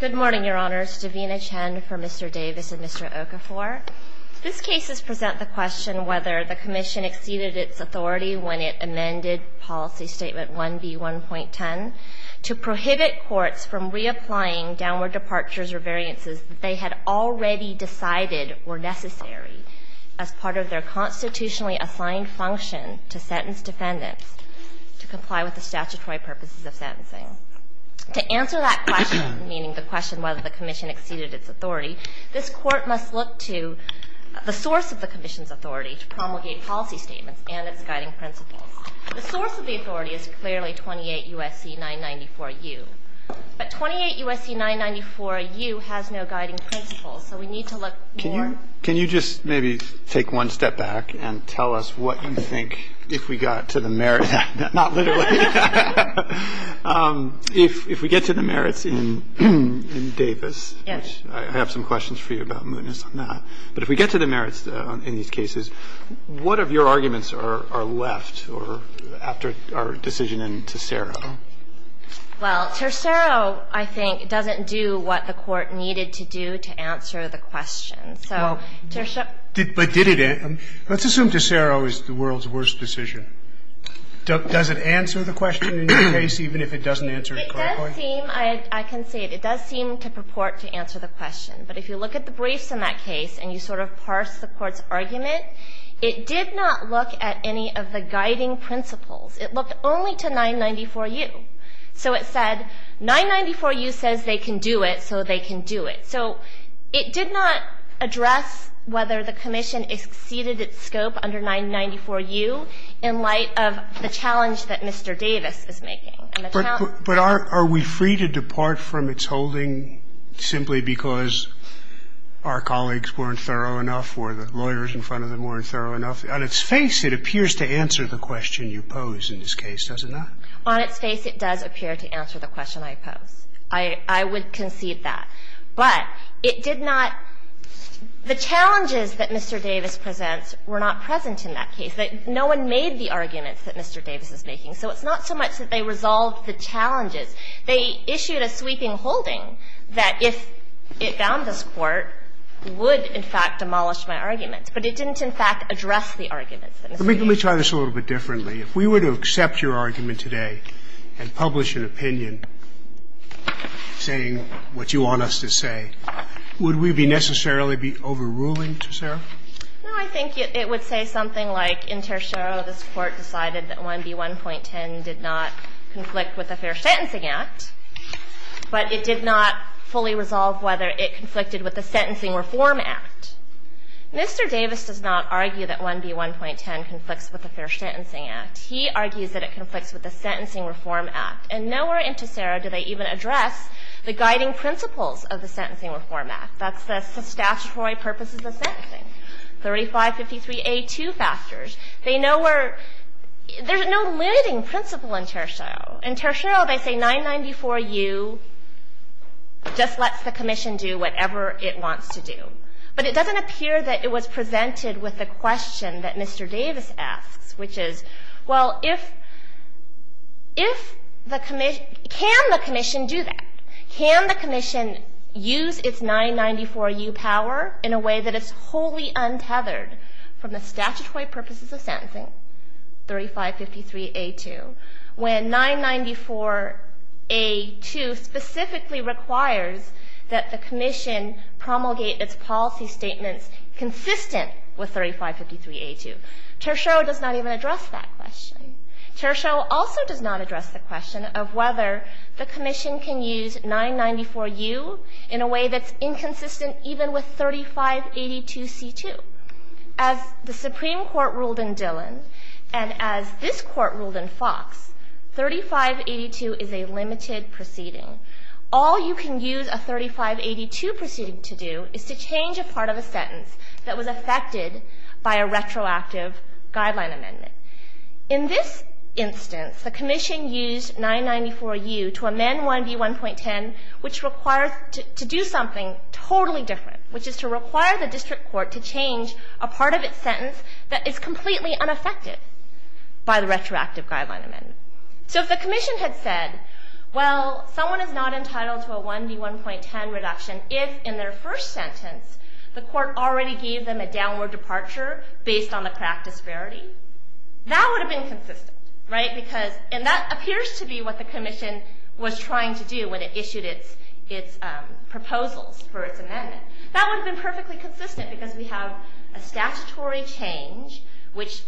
Good morning, Your Honors. Davina Chen for Mr. Davis and Mr. Okafor. These cases present the question whether the Commission exceeded its authority when it amended Policy Statement 1B1.10 to prohibit courts from reapplying downward departures or variances that they had already decided were necessary as part of their constitutionally assigned function to sentence defendants to comply with the statutory purposes of sentencing. To answer that question, meaning the question whether the Commission exceeded its authority, this Court must look to the source of the Commission's authority to promulgate policy statements and its guiding principles. The source of the authority is clearly 28 U.S.C. 994U, but 28 U.S.C. 994U has no guiding principles, so we need to look more. Can you just maybe take one step back and tell us what you think, if we got to the merit in Davis, which I have some questions for you about, Munis, on that, but if we get to the merits in these cases, what of your arguments are left or after our decision in Tercero? Well, Tercero, I think, doesn't do what the Court needed to do to answer the question. So, to show you the merits of the decision, I think, is to say that it's not the Court's fault. Does it answer the question in your case, even if it doesn't answer it correctly? It does seem, I can say it, it does seem to purport to answer the question. But if you look at the briefs in that case and you sort of parse the Court's argument, it did not look at any of the guiding principles. It looked only to 994U. So it said, 994U says they can do it, so they can do it. So it did not address whether the Commission exceeded its scope under 994U in looking not address whether the Commission exceeded its scope in light of the challenge that Mr. Davis is making. But are we free to depart from its holding simply because our colleagues weren't thorough enough or the lawyers in front of them weren't thorough enough? On its face, it appears to answer the question you pose in this case, does it not? On its face, it does appear to answer the question I pose. I would concede that. But it did not the challenges that Mr. Davis presents were not present in that case. No one made the arguments that Mr. Davis is making. So it's not so much that they resolved the challenges. They issued a sweeping holding that if it bound this Court would, in fact, demolish my argument. But it didn't, in fact, address the arguments that Mr. Davis made. Let me try this a little bit differently. If we were to accept your argument today and publish an opinion saying what you want us to say, would we be necessarily be overruling to Sarah? No, I think it would say something like inter show this Court decided that 1B1.10 did not conflict with the Fair Sentencing Act, but it did not fully resolve whether it conflicted with the Sentencing Reform Act. Mr. Davis does not argue that 1B1.10 conflicts with the Fair Sentencing Act. He argues that it conflicts with the Sentencing Reform Act. And nowhere into Sarah do they even address the guiding principles of the Sentencing Reform Act. That's the statutory purposes of sentencing, 3553A2 factors. They know where there's no limiting principle inter show. Inter show, they say 994U just lets the commission do whatever it wants to do. But it doesn't appear that it was presented with the question that Mr. Davis asks, which is, well, if the commission, can the commission do that? Can the commission use its 994U power in a way that it's wholly untethered from the statutory purposes of sentencing, 3553A2, when 994A2 specifically requires that the commission promulgate its policy statements consistent with 3553A2? Tertiaux does not even address that question. Tertiaux also does not address the question of whether the commission can use 994U in a way that's inconsistent even with 3582C2. As the Supreme Court ruled in Dillon, and as this court ruled in Fox, 3582 is a limited proceeding. All you can use a 3582 proceeding to do is to change a part of a sentence that was affected by a retroactive guideline amendment. In this instance, the commission used 994U to amend 1B1.10, which requires to do something totally different. Which is to require the district court to change a part of its sentence that is completely unaffected by the retroactive guideline amendment. So if the commission had said, well, someone is not entitled to a 1B1.10 reduction if, in their first sentence, the court already gave them a downward departure based on the crack disparity, that would have been consistent, right? Because, and that appears to be what the commission was trying to do when it issued its proposals for its amendment. That would have been perfectly consistent because we have a statutory change which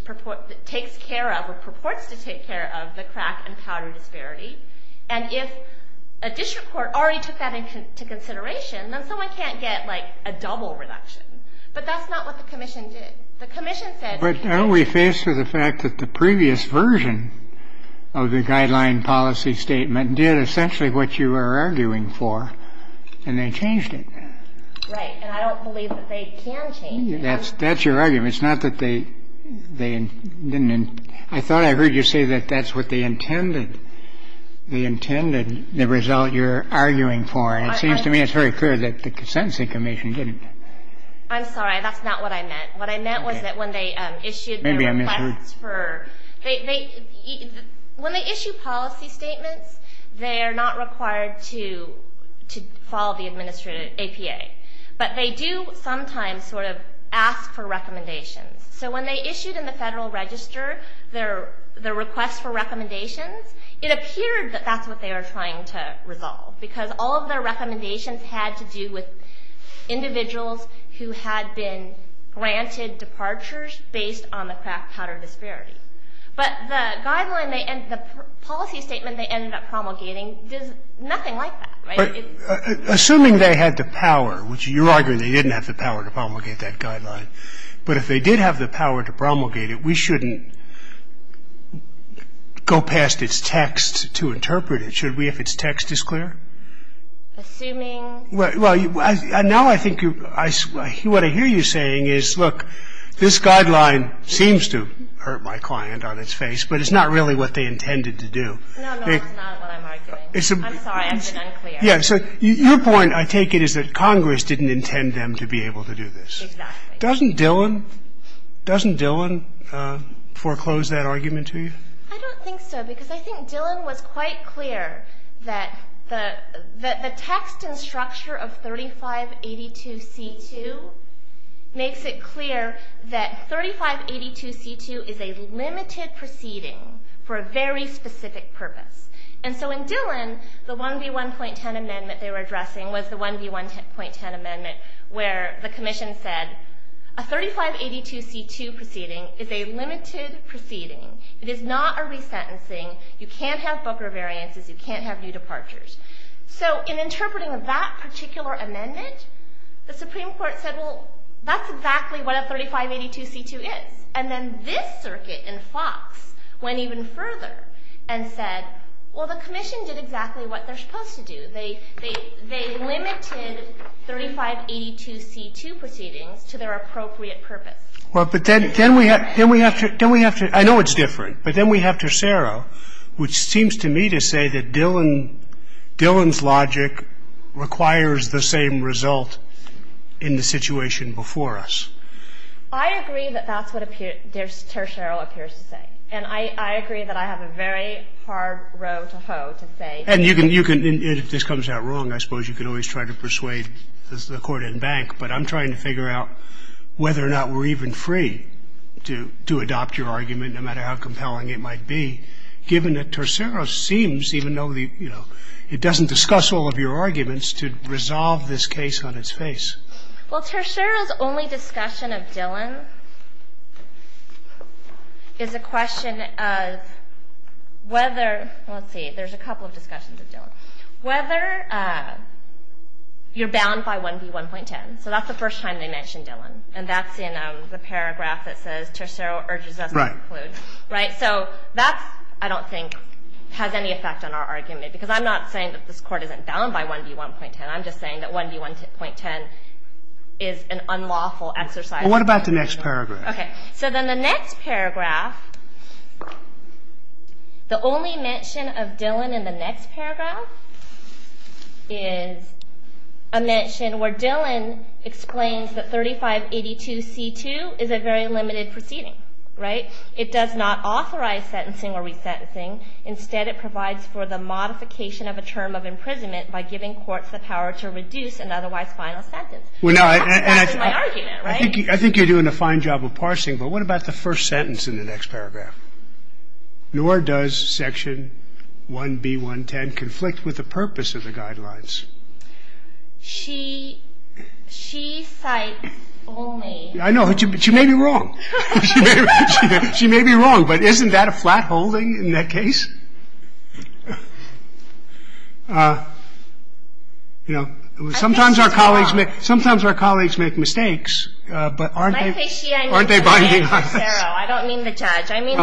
takes care of, or purports to take care of, the crack and powder disparity. And if a district court already took that into consideration, then someone can't get a double reduction. But that's not what the commission did. The commission said. But are we faced with the fact that the previous version of the guideline policy statement did essentially what you are arguing for, and they changed it? Right. And I don't believe that they can change it. That's your argument. It's not that they didn't. I thought I heard you say that that's what they intended. They intended the result you're arguing for. And it seems to me it's very clear that the consenting commission didn't. I'm sorry. That's not what I meant. What I meant was that when they issued the request for, when they issue policy statements, they are not required to follow the administrative APA. But they do sometimes sort of ask for recommendations. So when they issued in the Federal Register their request for recommendations, it appeared that that's what they were trying to resolve, because all of their recommendations had to do with individuals who had been granted departures based on the crack powder disparity. But the guideline they ended up, the policy statement they ended up promulgating does nothing like that, right? Assuming they had the power, which you're arguing they didn't have the power to promulgate that guideline, but if they did have the power to promulgate it, we shouldn't go past its text to interpret it, should we, if its text is clear? Assuming. Well, now I think you, what I hear you saying is, look, this guideline seems to hurt my client on its face, but it's not really what they intended to do. No, no, that's not what I'm arguing. I'm sorry, I've been unclear. Yeah, so your point, I take it, is that Congress didn't intend them to be able to do this. Exactly. Doesn't Dillon, doesn't Dillon foreclose that argument to you? I don't think so, because I think Dillon was quite clear that the text and structure of 3582C2 makes it clear that 3582C2 is a limited proceeding for a very specific purpose. And so in Dillon, the 1B1.10 amendment they were addressing was the 1B1.10 amendment, where the commission said, a 3582C2 proceeding is a limited proceeding. It is not a resentencing. You can't have Booker variances. You can't have new departures. So in interpreting that particular amendment, the Supreme Court said, well, that's exactly what a 3582C2 is. And then this circuit in Fox went even further and said, well, the commission did exactly what they're supposed to do. They limited 3582C2 proceedings to their appropriate purpose. Well, but then we have to, I know it's different, but then we have to Cero, which seems to me to say that Dillon's logic requires the same result in the situation before us. I agree that that's what Tercero appears to say. And I agree that I have a very hard row to hoe to say. And you can, if this comes out wrong, I suppose you can always try to persuade the court and bank. But I'm trying to figure out whether or not we're even free to adopt your argument, no matter how compelling it might be, given that Tercero seems, even though it doesn't discuss all of your arguments, to resolve this case on its face. Well, Tercero's only discussion of Dillon is a question of whether, let's see, there's a couple of discussions of Dillon, whether you're bound by 1B1.10. So that's the first time they mentioned Dillon. And that's in the paragraph that says, Tercero urges us to conclude, right? So that, I don't think, has any effect on our argument. Because I'm not saying that this court isn't bound by 1B1.10. I'm just saying that 1B1.10 is an unlawful exercise. Well, what about the next paragraph? OK. So then the next paragraph, the only mention of Dillon in the next paragraph is a mention where Dillon explains that 3582C2 is a very limited proceeding, right? It does not authorize sentencing or resentencing. Instead, it provides for the modification of a term of imprisonment by giving courts the power to reduce an otherwise final sentence. Well, now, and I think you're doing a fine job of parsing. But what about the first sentence in the next paragraph? Nor does section 1B1.10 conflict with the purpose of the guidelines. She cites only. I know. She may be wrong. She may be wrong. But isn't that a flat holding in that case? Sometimes our colleagues make mistakes. But aren't they binding on this? I don't mean the judge. I mean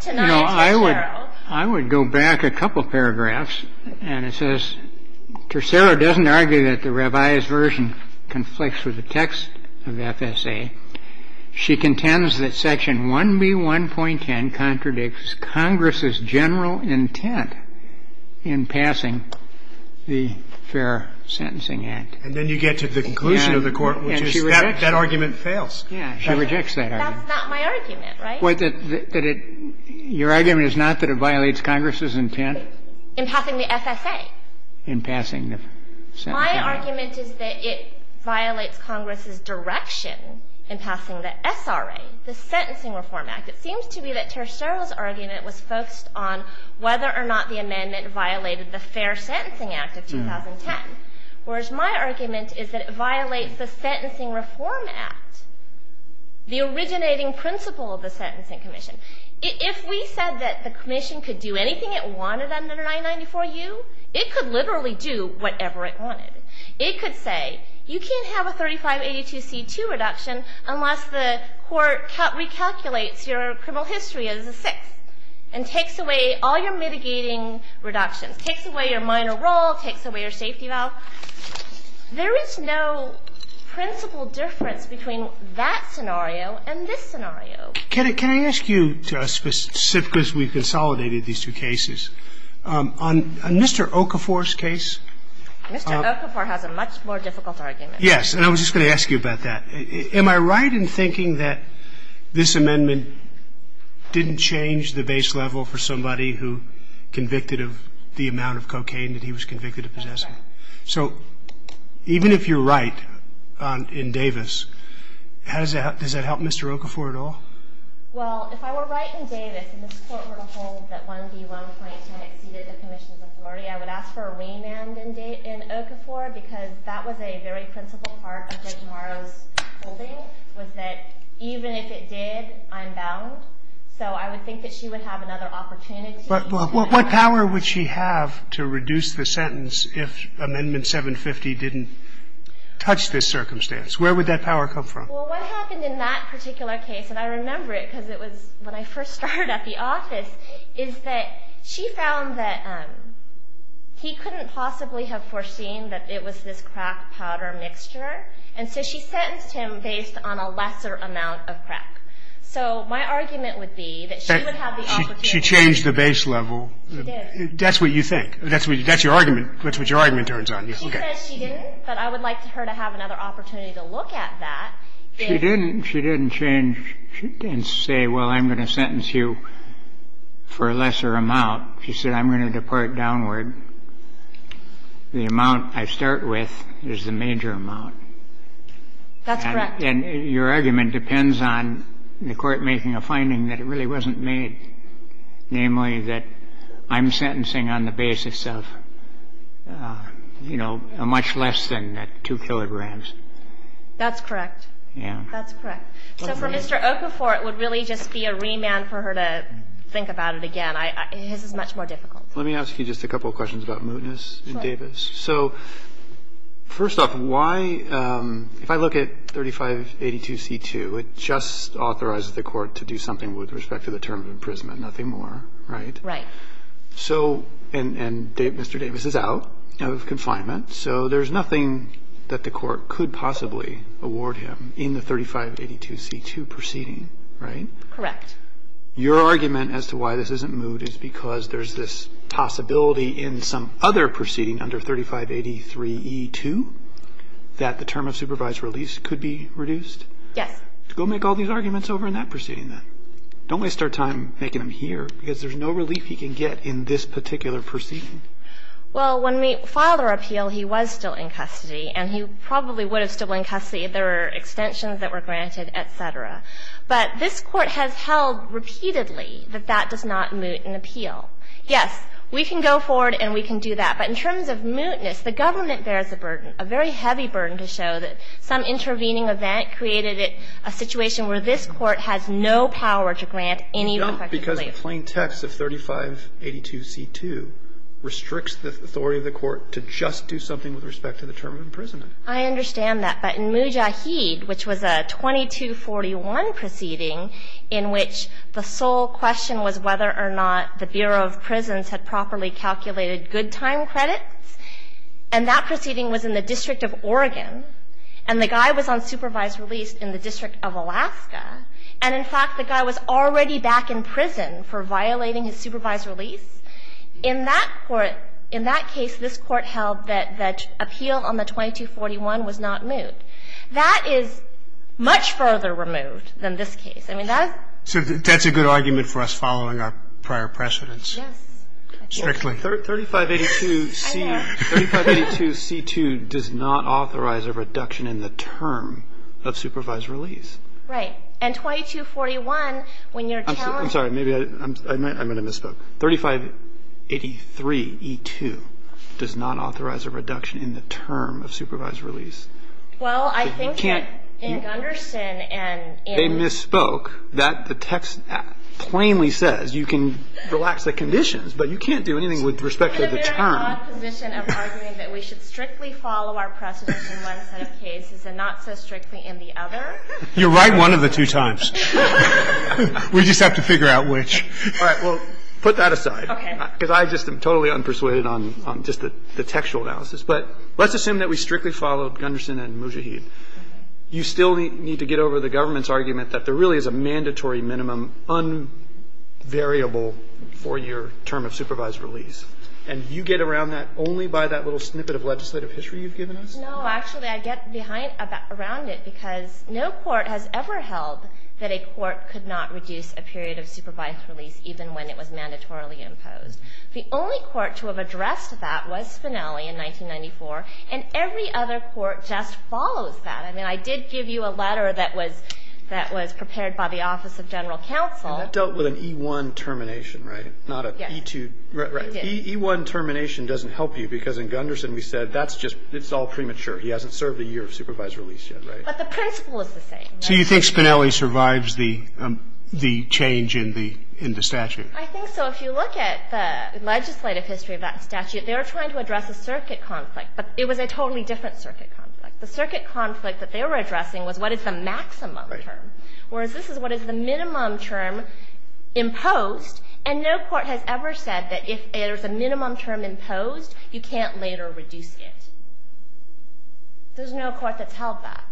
tonight's Tercero. I would go back a couple of paragraphs. And it says, Tercero doesn't argue that the rabbi's version conflicts with the text of the FSA. She contends that section 1B1.10 contradicts Congress's general intent in passing the Fair Sentencing Act. And then you get to the conclusion of the court, which is that argument fails. Yeah. She rejects that argument. That's not my argument, right? Your argument is not that it violates Congress's intent? In passing the FSA. In passing the FSA. My argument is that it violates Congress's direction in passing the SRA, the Sentencing Reform Act. It seems to be that Tercero's argument was focused on whether or not the amendment violated the Fair Sentencing Act of 2010. Whereas my argument is that it violates the Sentencing Reform Act, the originating principle of the Sentencing Commission. If we said that the commission could do anything it wanted under 994U, it could literally do whatever it wanted. It could say, you can't have a 3582C2 reduction unless the court recalculates your criminal history as a sixth and takes away all your mitigating reductions, takes away your minor role, takes away your safety valve. There is no principle difference between that scenario and this scenario. Can I ask you, just because we've consolidated these two cases, on Mr. Tercero's case and Mr. Okafor's case. Mr. Okafor has a much more difficult argument. Yes, and I was just going to ask you about that. Am I right in thinking that this amendment didn't change the base level for somebody who convicted of the amount of cocaine that he was convicted of possessing? That's right. So even if you're right in Davis, does that help Mr. Okafor at all? Well, if I were right in Davis and this Court were to hold that 1B, which is 1.10, exceeded the commission's authority, I would ask for a weigh-in in Okafor, because that was a very principal part of Judge Morrow's holding, was that even if it did, I'm bound. So I would think that she would have another opportunity. But what power would she have to reduce the sentence if Amendment 750 didn't touch this circumstance? Where would that power come from? Well, what happened in that particular case, and I remember it because it was when I first started at the office, is that she found that he couldn't possibly have foreseen that it was this crack-powder mixture, and so she sentenced him based on a lesser amount of crack. So my argument would be that she would have the opportunity. She changed the base level. She did. That's what you think. That's what your argument turns on you. She says she didn't, but I would like for her to have another opportunity to look at that. She didn't change and say, well, I'm going to sentence you for a lesser amount. She said, I'm going to depart downward. The amount I start with is the major amount. That's correct. And your argument depends on the court making a finding that it really wasn't made, namely that I'm sentencing on the basis of a much less than 2 kilograms. That's correct. That's correct. So for Mr. Okafor, it would really just be a remand for her to think about it again. His is much more difficult. Let me ask you just a couple of questions about Mootness and Davis. So first off, if I look at 3582c2, it just authorizes the court to do something with respect to the term of imprisonment, nothing more, right? Right. And Mr. Davis is out of confinement, so there's nothing that the court could possibly award him in the 3582c2 proceeding, right? Correct. Your argument as to why this isn't Moot is because there's this possibility in some other proceeding under 3583e2 that the term of supervised release could be reduced? Yes. Go make all these arguments over in that proceeding then. Don't waste our time making them here, because there's no relief he can get in this particular proceeding. Well, when we filed our appeal, he was still in custody, and he probably would have still been in custody if there were extensions that were granted, et cetera. But this Court has held repeatedly that that does not moot an appeal. Yes, we can go forward and we can do that. But in terms of Mootness, the government bears a burden, a very heavy burden to show that some intervening event created a situation where this Court has no power to grant any effective relief. No, because the plain text of 3582c2 restricts the authority of the court to just do something with respect to the term of imprisonment. I understand that. But in Mujahid, which was a 2241 proceeding in which the sole question was whether or not the Bureau of Prisons had properly calculated good time credits, and that proceeding was in the District of Oregon, and the guy was on supervised release in the District of Alaska, and, in fact, the guy was already back in prison for violating his supervised release. In that court, in that case, this Court held that the appeal on the 2241 was not moot. That is much further removed than this case. I mean, that is the question. So that's a good argument for us following our prior precedents. Yes. Strictly. 3582c2 does not authorize a reduction in the term of supervised release. Right. 3583e2 does not authorize a reduction in the term of supervised release. Well, I think that in Gunderson and in the – They misspoke. That – the text plainly says you can relax the conditions, but you can't do anything with respect to the term. I'm in a very odd position of arguing that we should strictly follow our precedents in one set of cases and not so strictly in the other. You're right one of the two times. We just have to figure out which. All right. Well, put that aside. Because I just am totally unpersuaded on just the textual analysis. But let's assume that we strictly followed Gunderson and Mujahid. You still need to get over the government's argument that there really is a mandatory minimum, unvariable four-year term of supervised release. And you get around that only by that little snippet of legislative history you've given us? No, actually, I get behind – around it because no court has ever held that a court could not reduce a period of supervised release even when it was mandatorily imposed. The only court to have addressed that was Spinelli in 1994, and every other court just follows that. I mean, I did give you a letter that was – that was prepared by the Office of General Counsel. And that dealt with an E-1 termination, right? Not an E-2 – Yes, it did. E-1 termination doesn't help you because in Gunderson we said that's just – it's all premature. He hasn't served a year of supervised release yet, right? But the principle is the same. So you think Spinelli survives the change in the statute? I think so. If you look at the legislative history of that statute, they were trying to address a circuit conflict, but it was a totally different circuit conflict. The circuit conflict that they were addressing was what is the maximum term, whereas this is what is the minimum term imposed. And no court has ever said that if there's a minimum term imposed, you can't later reduce it. There's no court that's held that.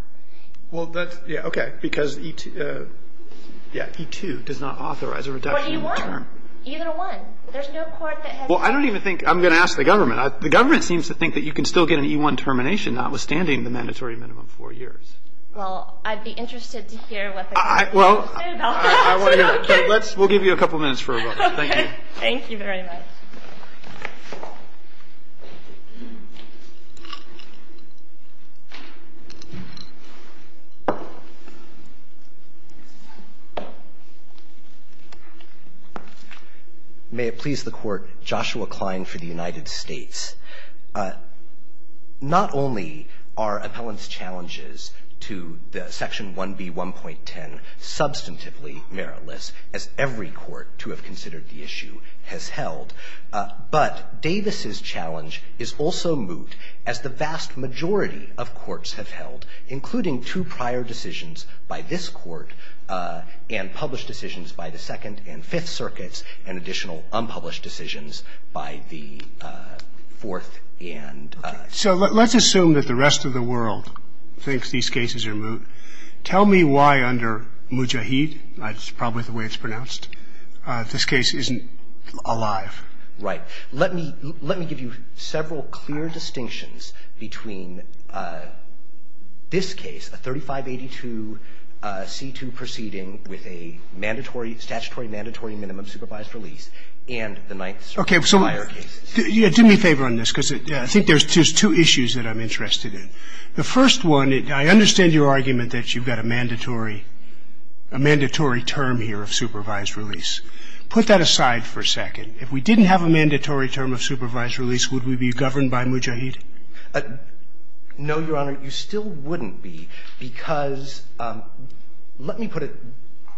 Well, that's – yeah, okay. Because E-2 – yeah, E-2 does not authorize a reduction in term. Or E-1. E-1. There's no court that has – Well, I don't even think – I'm going to ask the government. The government seems to think that you can still get an E-1 termination, notwithstanding the mandatory minimum of four years. Well, I'd be interested to hear what the government has to say about that. Well, I want to know. But let's – we'll give you a couple minutes for a vote. Thank you. Thank you very much. May it please the Court, Joshua Klein for the United States. Not only are appellant's challenges to the Section 1B1.10 substantively meritless, as every court to have considered the issue has held, but Davis's challenge is also that the majority of courts have held, including two prior decisions by this court and published decisions by the Second and Fifth Circuits, and additional unpublished decisions by the Fourth and – So let's assume that the rest of the world thinks these cases are – tell me why under Mujahid – that's probably the way it's pronounced – this case isn't alive. Right. Let me – let me give you several clear distinctions between this case, a 3582 C2 proceeding with a mandatory – statutory mandatory minimum supervised release, and the Ninth Circuit prior case. Okay. So do me a favor on this, because I think there's two issues that I'm interested in. The first one, I understand your argument that you've got a mandatory – a mandatory term here of supervised release. Put that aside for a second. If we didn't have a mandatory term of supervised release, would we be governed by Mujahid? No, Your Honor, you still wouldn't be, because – let me put it –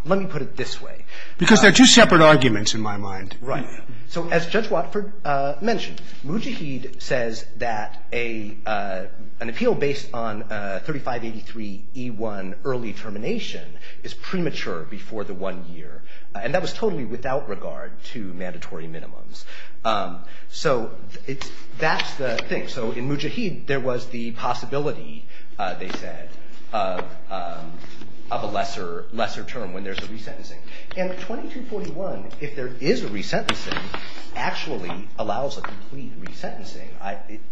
let me put it this way. Because they're two separate arguments in my mind. Right. So as Judge Watford mentioned, Mujahid says that a – an appeal based on 3583 E1 early termination is premature before the one year, and that was totally without regard to mandatory minimums. So it's – that's the thing. So in Mujahid, there was the possibility, they said, of a lesser – lesser term when there's a resentencing. And 2241, if there is a resentencing, actually allows a complete resentencing,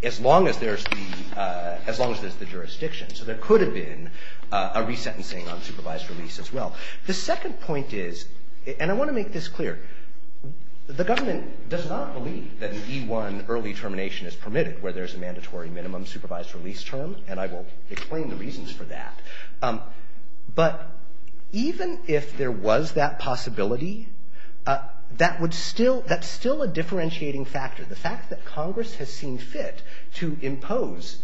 as long as there's the – as long as there's the jurisdiction. So there could have been a resentencing on supervised release as well. The second point is – and I want to make this clear – the government does not believe that an E1 early termination is permitted where there's a mandatory minimum supervised release term, and I will explain the reasons for that. But even if there was that possibility, that would still – that's still a differentiating factor. The fact that Congress has seen fit to impose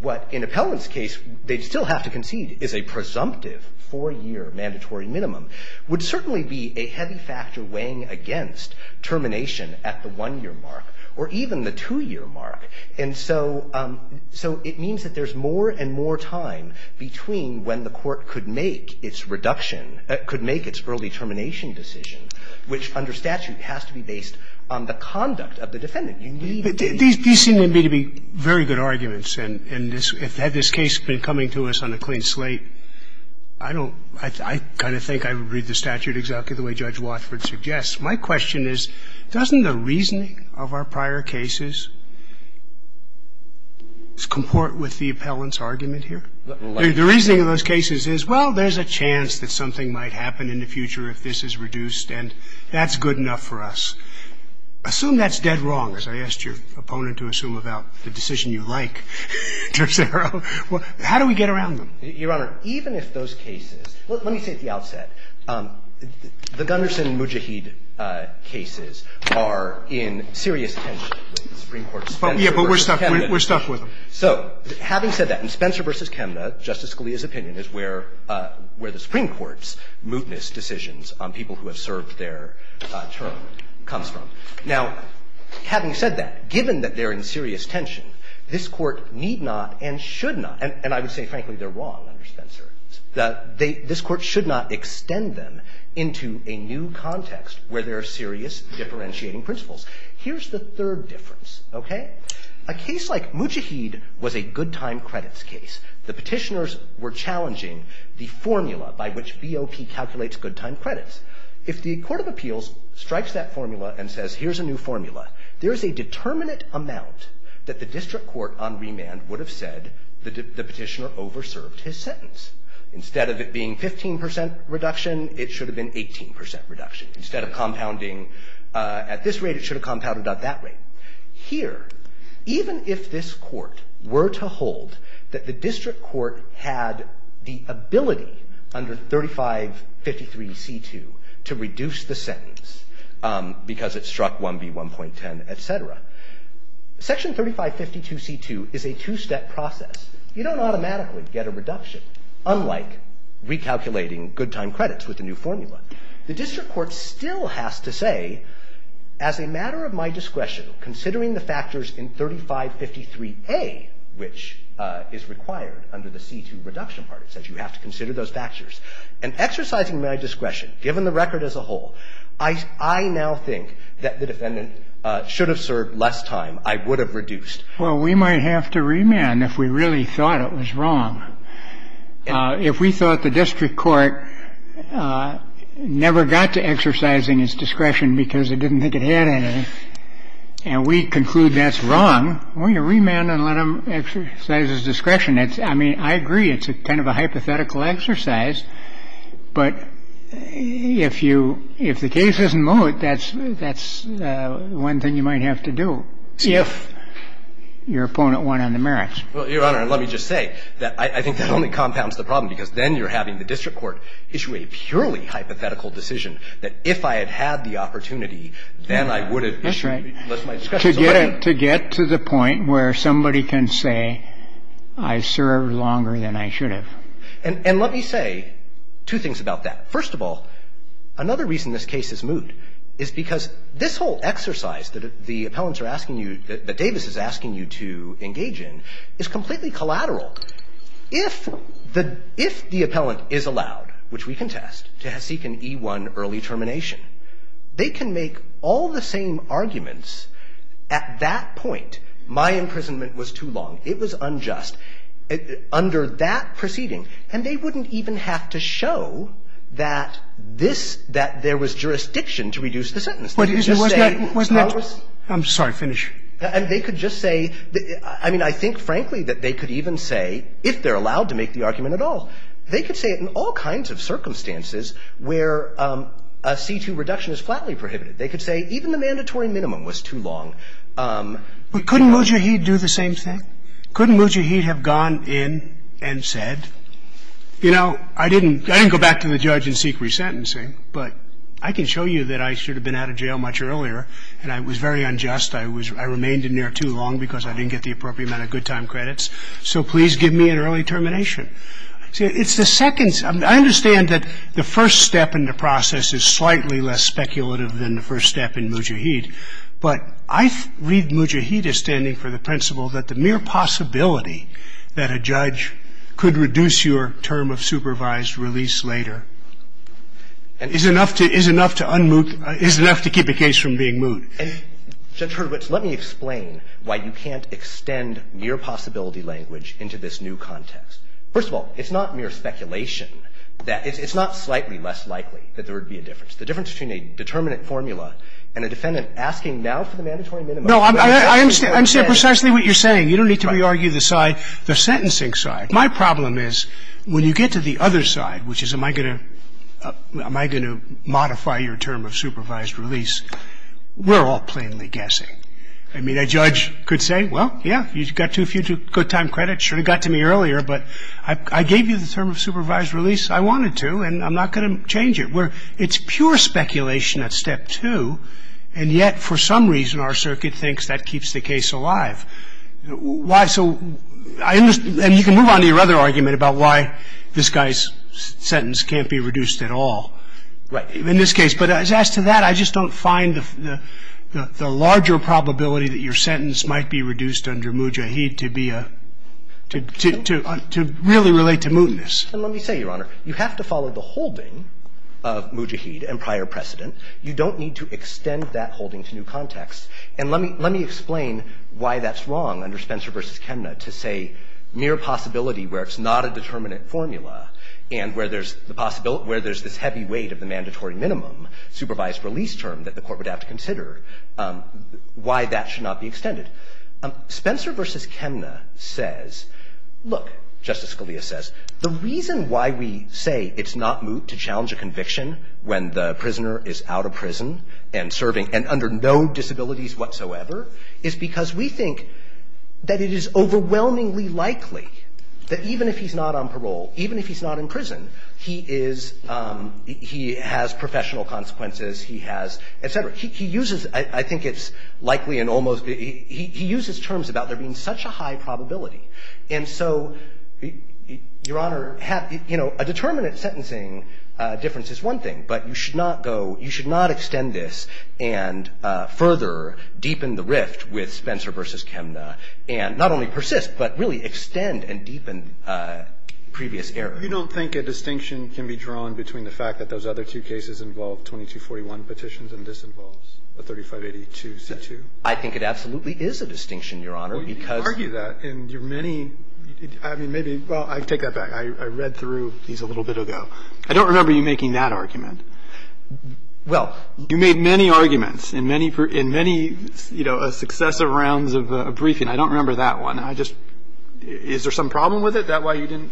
what, in Appellant's case, they'd still have to concede is a presumptive four-year mandatory minimum would certainly be a heavy factor weighing against termination at the one-year mark or even the two-year mark. And so – so it means that there's more and more time between when the Court could make its reduction – could make its early termination decision, which, under statute, has to be based on the conduct of the defendant. You need to be able to do that. And I think that's a good point, and I think that's a good argument, and this – had this case been coming to us on a clean slate, I don't – I kind of think I would read the statute exactly the way Judge Watford suggests. My question is, doesn't the reasoning of our prior cases comport with the Appellant's argument here? The reasoning of those cases is, well, there's a chance that something might happen in the future if this is reduced, and that's good enough for us. Assume that's dead wrong, as I asked your opponent to assume about the decision you like, Terzaro. How do we get around them? Your Honor, even if those cases – let me say at the outset, the Gunderson and Mujahid cases are in serious tension with the Supreme Court's Spencer v. Chemnitz. Yeah, but we're stuck – we're stuck with them. So having said that, in Spencer v. Chemnitz, Justice Scalia's opinion is where – where the Supreme Court's mootness decisions on people who have served their term comes from. Now, having said that, given that they're in serious tension, this Court need not and should not – and I would say, frankly, they're wrong under Spencer – that they – this Court should not extend them into a new context where there are serious differentiating principles. Here's the third difference, okay? A case like Mujahid was a good-time credits case. The Petitioners were challenging the formula by which BOP calculates good-time credits. If the Court of Appeals strikes that formula and says, here's a new formula, there is a determinate amount that the district court on remand would have said the Petitioner over-served his sentence. Instead of it being 15 percent reduction, it should have been 18 percent reduction. Instead of compounding at this rate, it should have compounded at that rate. Here, even if this Court were to hold that the district court had the ability under 3553C2 to reduce the sentence because it struck 1B1.10, et cetera, Section 3552C2 is a two-step process. You don't automatically get a reduction, unlike recalculating good-time credits with the new formula. The district court still has to say, as a matter of my discretion, considering the factors in 3553A, which is required under the C2 reduction part, it says you have to consider those factors. And exercising my discretion, given the record as a whole, I now think that the defendant should have served less time. I would have reduced. Well, we might have to remand if we really thought it was wrong. If we thought the district court never got to exercising his discretion because it didn't think it had any, and we conclude that's wrong, we're going to remand and let him exercise his discretion. I mean, I agree it's kind of a hypothetical exercise. But if you — if the case isn't moot, that's one thing you might have to do if your opponent won on the merits. Well, Your Honor, let me just say that I think that only compounds the problem, because then you're having the district court issue a purely hypothetical decision that if I had had the opportunity, then I would have issued it. That's right. To get to the point where somebody can say, I served longer than I should have. And let me say two things about that. First of all, another reason this case is moot is because this whole exercise that the appellants are asking you, that Davis is asking you to engage in, is completely collateral. If the appellant is allowed, which we contest, to seek an E-1 early termination, they can make all the same arguments at that point. My imprisonment was too long. It was unjust. Under that proceeding, and they wouldn't even have to show that this — that there was jurisdiction to reduce the sentence. They could just say, I'm sorry, finish. And they could just say — I mean, I think, frankly, that they could even say, if they're allowed to make the argument at all, they could say it in all kinds of circumstances where a C-2 reduction is flatly prohibited. They could say even the mandatory minimum was too long. But couldn't Mujahid do the same thing? Couldn't Mujahid have gone in and said, you know, I didn't go back to the judge and seek resentencing, but I can show you that I should have been out of jail much earlier, and I was very unjust. I remained in there too long because I didn't get the appropriate amount of good time credits. So please give me an early termination. It's the second — I understand that the first step in the process is slightly less speculative than the first step in Mujahid. But I read Mujahid as standing for the principle that the mere possibility that a judge could reduce your term of supervised release later is enough to — is enough to unmoot — is enough to keep a case from being moot. And, Judge Hurwitz, let me explain why you can't extend mere possibility language into this new context. First of all, it's not mere speculation that — it's not slightly less likely that there would be a difference. The difference between a determinate formula and a defendant asking now for the mandatory minimum. No, I understand precisely what you're saying. You don't need to re-argue the side — the sentencing side. My problem is when you get to the other side, which is am I going to — am I going to modify your term of supervised release, we're all plainly guessing. I mean, a judge could say, well, yeah, you got too few good time credits. Should have got to me earlier, but I gave you the term of supervised release. I wanted to, and I'm not going to change it. I mean, it's pure speculation at step two, and yet for some reason our circuit thinks that keeps the case alive. Why — so I — and you can move on to your other argument about why this guy's sentence can't be reduced at all. Right. In this case. But as to that, I just don't find the larger probability that your sentence might be reduced under moot jaheed to be a — to really relate to mootness. And let me say, Your Honor, you have to follow the holding of moot jaheed and prior precedent. You don't need to extend that holding to new contexts. And let me — let me explain why that's wrong under Spencer v. Kemna to say mere possibility where it's not a determinant formula and where there's the possibility — where there's this heavy weight of the mandatory minimum supervised release term that the Court would have to consider, why that should not be extended. Spencer v. Kemna says, look, Justice Scalia says, the reason why we say it's not moot to challenge a conviction when the prisoner is out of prison and serving and under no disabilities whatsoever is because we think that it is overwhelmingly likely that even if he's not on parole, even if he's not in prison, he is — he has professional consequences, he has, et cetera. He uses — I think it's likely and almost — he uses terms about there being such a high probability. And so, Your Honor, have — you know, a determinant sentencing difference is one thing, but you should not go — you should not extend this and further deepen the rift with Spencer v. Kemna and not only persist, but really extend and deepen previous errors. You don't think a distinction can be drawn between the fact that those other two cases involve 2241 petitions and this involves a 3582 C-2? I think it absolutely is a distinction, Your Honor, because — Well, you argue that in your many — I mean, maybe — well, I take that back. I read through these a little bit ago. I don't remember you making that argument. Well — You made many arguments in many — in many, you know, successive rounds of briefing. I don't remember that one. I just — is there some problem with it? Is that why you didn't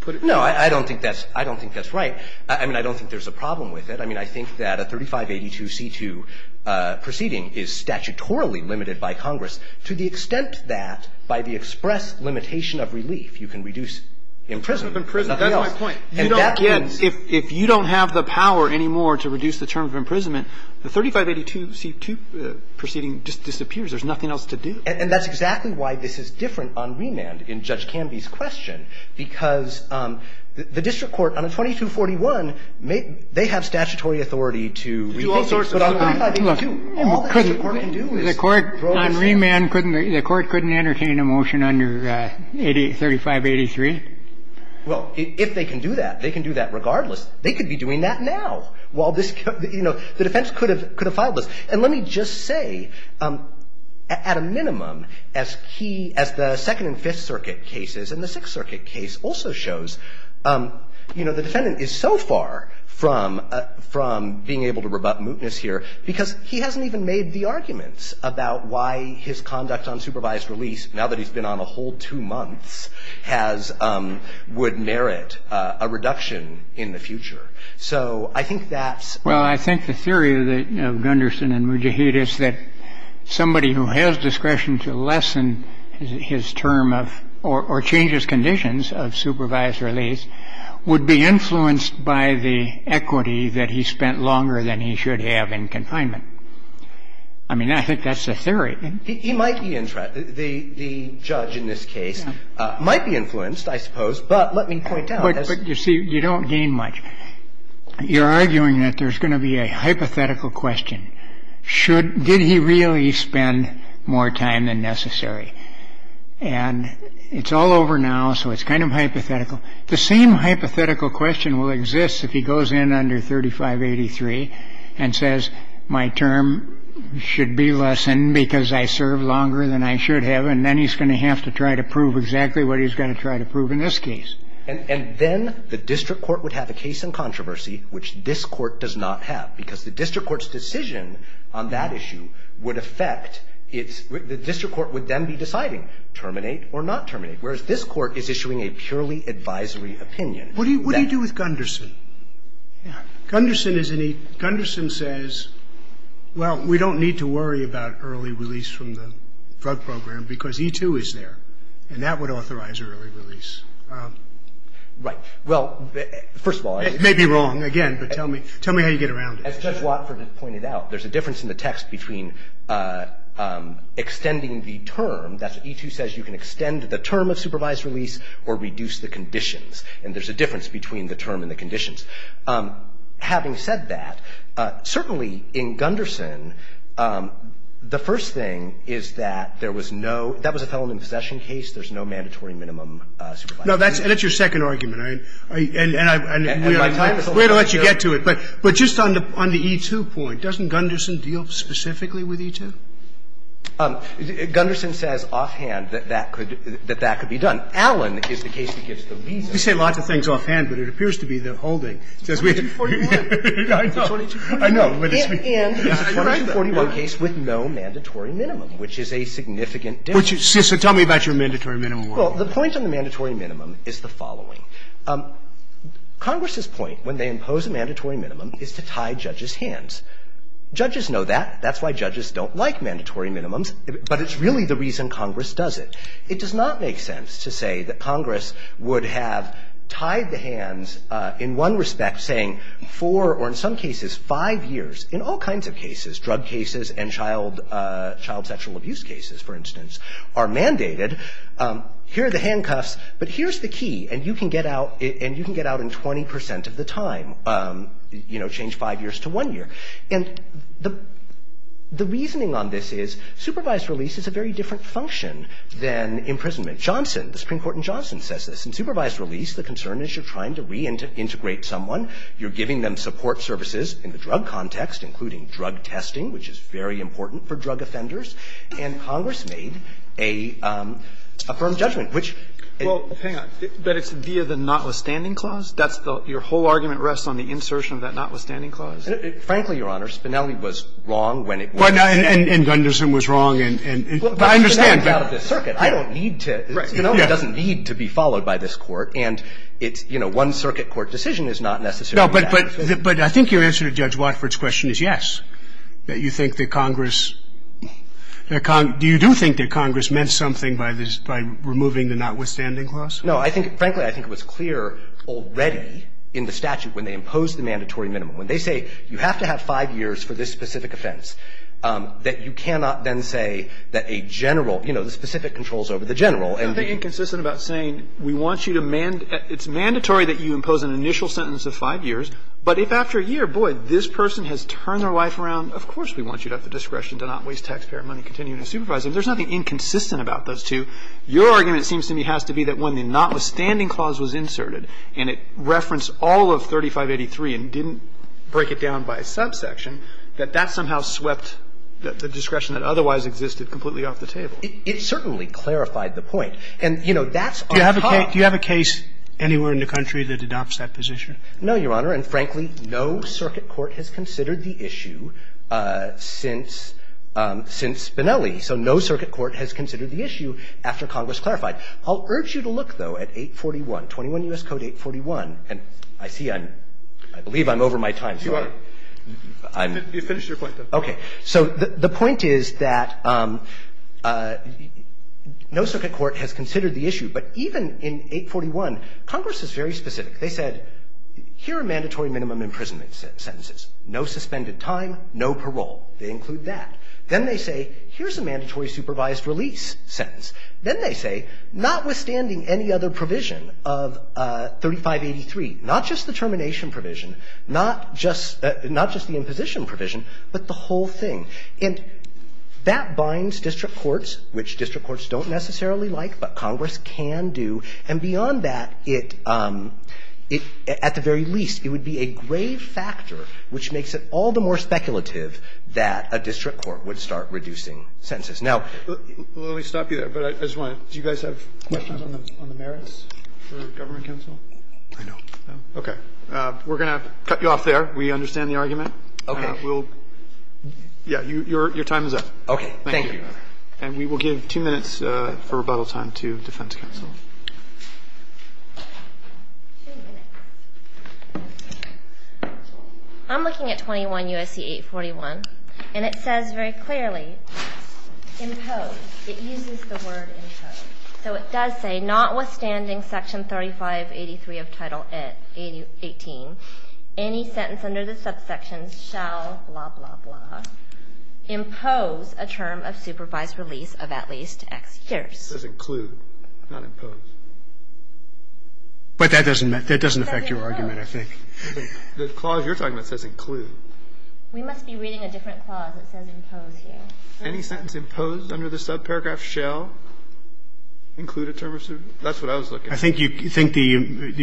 put it — No, I don't think that's — I don't think that's right. I mean, I don't think there's a problem with it. I mean, I think that a 3582 C-2 proceeding is statutorily limited by Congress to the extent that by the express limitation of relief, you can reduce imprisonment and nothing else. That's my point. You don't get — if you don't have the power anymore to reduce the term of imprisonment, the 3582 C-2 proceeding just disappears. There's nothing else to do. And that's exactly why this is different on remand in Judge Canby's question, because the district court on a 2241, they have statutory authority to — To do all sorts of things. Look, all the district court can do is — The court on remand couldn't — the court couldn't entertain a motion under 38 — 3583? Well, if they can do that, they can do that regardless. They could be doing that now while this — you know, the defense could have filed this. And let me just say, at a minimum, as key — as the Second and Fifth Circuit cases and the Sixth Circuit case also shows, you know, the defendant is so far from — from being able to rebut mootness here because he hasn't even made the arguments about why his conduct on supervised release, now that he's been on a whole two months, has — would merit a reduction in the future. So I think that's — Well, I think the theory of the — of Gunderson and Mujahid is that somebody who has discretion to lessen his term of — or changes conditions of supervised release would be influenced by the equity that he spent longer than he should have in confinement. I mean, I think that's the theory. He might be — the judge in this case might be influenced, I suppose. But let me point out — But, you see, you don't gain much. You're arguing that there's going to be a hypothetical question. Did he really spend more time than necessary? And it's all over now, so it's kind of hypothetical. The same hypothetical question will exist if he goes in under 3583 and says, my term should be lessened because I served longer than I should have, and then he's going to have to try to prove exactly what he's going to try to prove in this case. And then the district court would have a case in controversy, which this court does not have, because the district court's decision on that issue would affect its — the district court would then be deciding, terminate or not terminate, whereas this court is issuing a purely advisory opinion. What do you do with Gunderson? Yeah. Gunderson is an — Gunderson says, well, we don't need to worry about early release from the drug program because E2 is there, and that would authorize early release. Right. Well, first of all — It may be wrong, again, but tell me how you get around it. As Judge Watford has pointed out, there's a difference in the text between extending the term. That's what E2 says. You can extend the term of supervised release or reduce the conditions, and there's a difference between the term and the conditions. Having said that, certainly in Gunderson, the first thing is that there was no — that was a felony possession case. There's no mandatory minimum supervised release. No, that's your second argument. And I — and we're — And my time is over. We're going to let you get to it. But just on the E2 point, doesn't Gunderson deal specifically with E2? Gunderson says offhand that that could — that that could be done. Allen is the case that gives the reason. You say lots of things offhand, but it appears to be the whole thing. 2241. I know. It's a 2241 case with no mandatory minimum, which is a significant difference. So tell me about your mandatory minimum. Well, the point on the mandatory minimum is the following. Congress's point when they impose a mandatory minimum is to tie judges' hands. Judges know that. That's why judges don't like mandatory minimums. But it's really the reason Congress does it. It does not make sense to say that Congress would have tied the hands in one respect saying for, or in some cases, five years. In all kinds of cases, drug cases and child sexual abuse cases, for instance, are mandated. Here are the handcuffs. But here's the key, and you can get out — and you can get out in 20 percent of the time, you know, change five years to one year. And the reasoning on this is supervised release is a very different function than imprisonment. Johnson, the Supreme Court in Johnson, says this. In supervised release, the concern is you're trying to reintegrate someone. You're giving them support services in the drug context, including drug testing, which is very important for drug offenders. And Congress made a firm judgment, which — Well, hang on. But it's via the notwithstanding clause? That's the — your whole argument rests on the insertion of that notwithstanding clause? Frankly, Your Honor, Spinelli was wrong when it was — And Gunderson was wrong and — Well, but Spinelli got out of this circuit. I don't need to — Right. Spinelli doesn't need to be followed by this Court. And it's, you know, one circuit court decision is not necessarily — No, but I think your answer to Judge Watford's question is yes, that you think that Congress — do you do think that Congress meant something by removing the notwithstanding clause? No. I think — frankly, I think it was clear already in the statute when they imposed the mandatory minimum. When they say you have to have five years for this specific offense, that you cannot then say that a general — you know, the specific controls over the general. And — It's nothing inconsistent about saying we want you to — it's mandatory that you impose an initial sentence of five years, but if after a year, boy, this person has turned their life around, of course we want you to have the discretion to not waste taxpayer money continuing to supervise them. There's nothing inconsistent about those two. Your argument seems to me has to be that when the notwithstanding clause was inserted and it referenced all of 3583 and didn't break it down by a subsection, that that somehow swept the discretion that otherwise existed completely off the table. It certainly clarified the point. And, you know, that's our — Do you have a case anywhere in the country that adopts that position? No, Your Honor. And frankly, no circuit court has considered the issue since — since Benelli. So no circuit court has considered the issue after Congress clarified. I'll urge you to look, though, at 841, 21 U.S. Code 841. And I see I'm — I believe I'm over my time. You are. You finished your point, though. Okay. So the point is that no circuit court has considered the issue. But even in 841, Congress is very specific. They said, here are mandatory minimum imprisonment sentences, no suspended time, no parole. They include that. Then they say, here's a mandatory supervised release sentence. Then they say, notwithstanding any other provision of 3583, not just the termination provision, not just — not just the imposition provision, but the whole thing. And that binds district courts, which district courts don't necessarily like, but Congress can do. And beyond that, it — at the very least, it would be a grave factor which makes it all the more speculative that a district court would start reducing sentences. Now — Let me stop you there. But I just want to — do you guys have questions on the merits for government counsel? I know. Okay. We're going to cut you off there. We understand the argument. Okay. We'll — yeah, your time is up. Okay. Thank you. Thank you. And we will give two minutes for rebuttal time to defense counsel. Two minutes. I'm looking at 21 U.S.C. 841, and it says very clearly, impose. It uses the word impose. So it does say, notwithstanding section 3583 of Title 18, any sentence under the subsection shall, blah, blah, blah, impose a term of supervised release of at least X years. It says include, not impose. But that doesn't affect your argument, I think. The clause you're talking about says include. We must be reading a different clause that says impose here. Any sentence imposed under the subparagraph shall include a term of — that's what I was looking for. I think you — do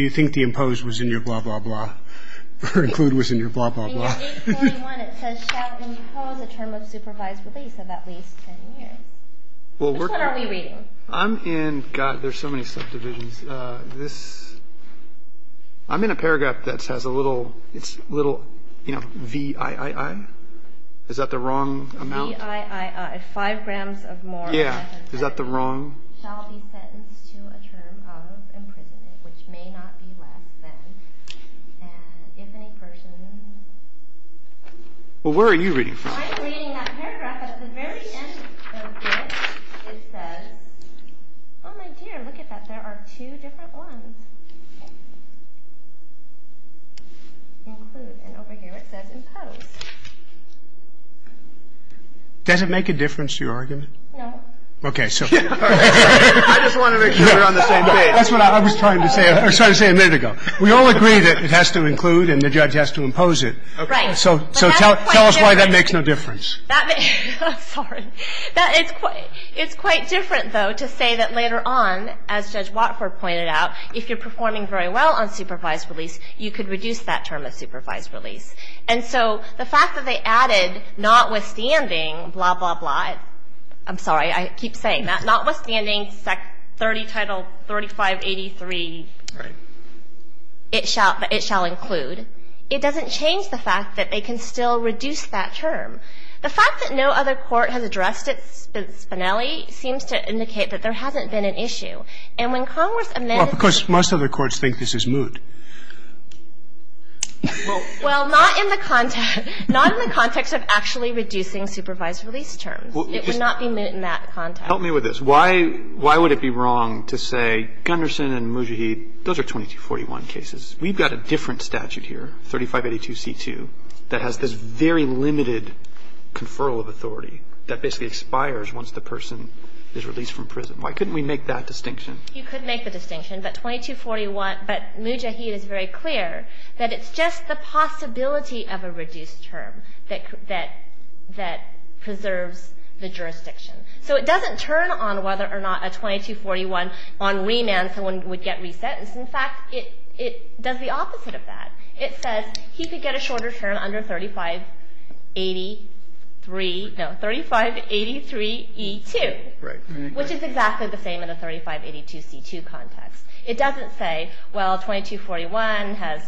you think the impose was in your blah, blah, blah, or include was in your blah, blah, blah? In 841, it says shall impose a term of supervised release of at least X years. Which one are we reading? I'm in — God, there's so many subdivisions. This — I'm in a paragraph that has a little — it's a little, you know, VIII. Is that the wrong amount? VIII, five grams of more. Yeah. Is that the wrong — shall be sentenced to a term of imprisonment, which may not be less than, and if any person — Well, where are you reading from? I'm reading that paragraph, but at the very end of it, it says — oh, my dear, look at that. There are two different ones. Include. And over here it says impose. Does it make a difference to your argument? No. Okay, so — I just want to make sure we're on the same page. That's what I was trying to say a minute ago. We all agree that it has to include and the judge has to impose it. Right. So tell us why that makes no difference. Sorry. It's quite different, though, to say that later on, as Judge Watford pointed out, if you're performing very well on supervised release, you could reduce that term of supervised release. And so the fact that they added notwithstanding blah, blah, blah — I'm sorry. I keep saying that. Notwithstanding 30 Title 3583. Right. It shall include. It doesn't change the fact that they can still reduce that term. The fact that no other court has addressed its finale seems to indicate that there hasn't been an issue. And when Congress amended — Well, of course, most other courts think this is moot. Well, not in the context of actually reducing supervised release terms. It would not be moot in that context. Help me with this. Why would it be wrong to say Gunderson and Mujahid, those are 2241 cases. We've got a different statute here, 3582c2, that has this very limited conferral of authority that basically expires once the person is released from prison. Why couldn't we make that distinction? You could make the distinction. But 2241 — but Mujahid is very clear that it's just the possibility of a reduced term that preserves the jurisdiction. So it doesn't turn on whether or not a 2241 on remand someone would get reset. In fact, it does the opposite of that. It says he could get a shorter term under 3583 — no, 3583e2. Right. Which is exactly the same in the 3582c2 context. It doesn't say, well, 2241 has —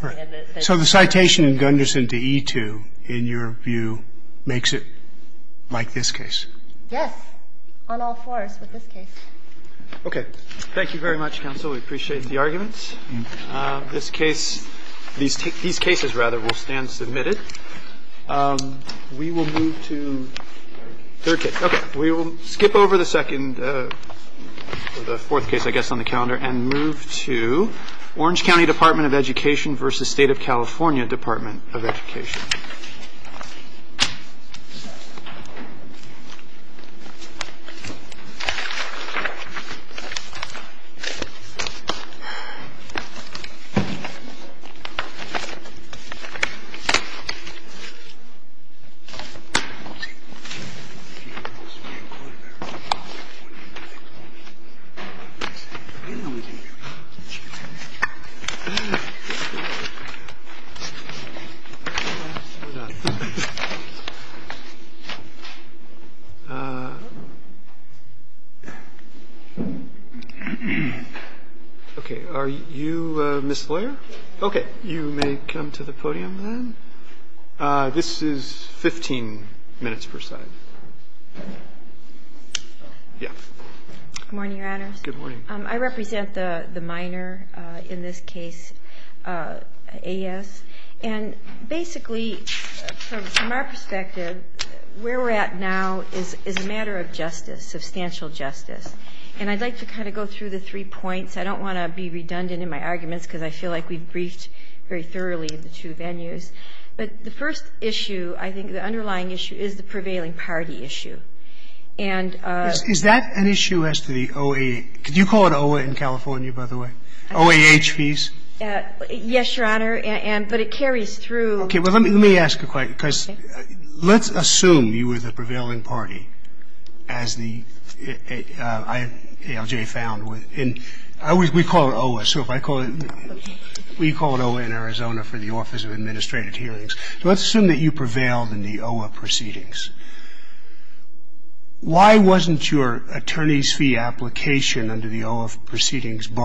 So the citation in Gunderson to e2, in your view, makes it like this case. Yes. On all fours with this case. Okay. Thank you very much, counsel. We appreciate the arguments. This case — these cases, rather, will stand submitted. We will move to third case. Okay. We will skip over the second — the fourth case, I guess, on the calendar and move to Orange County Department of Education versus State of California Department of Education. Okay. Are you Ms. Floyer? Okay. You may come to the podium then. This is 15 minutes per side. Yeah. Good morning, Your Honors. Good morning. I represent the minor in this case, AS. And basically, from our perspective, where we're at now is a matter of justice, substantial justice. And I'd like to kind of go through the three points. I don't want to be redundant in my arguments because I feel like we've briefed very thoroughly the two venues. But the first issue, I think the underlying issue, is the prevailing party issue. And — Is that an issue as to the OA? Could you call it OAH in California, by the way? OAH fees? Yes, Your Honor. And — but it carries through — Okay. Well, let me ask a question. Okay. Because let's assume you were the prevailing party, as the ALJ found with — and we call it OAH. So if I call it — Okay. We call it OAH in Arizona for the Office of Administrative Hearings. So let's assume that you prevailed in the OAH proceedings. Why wasn't your attorney's fee application under the OAH proceedings barred?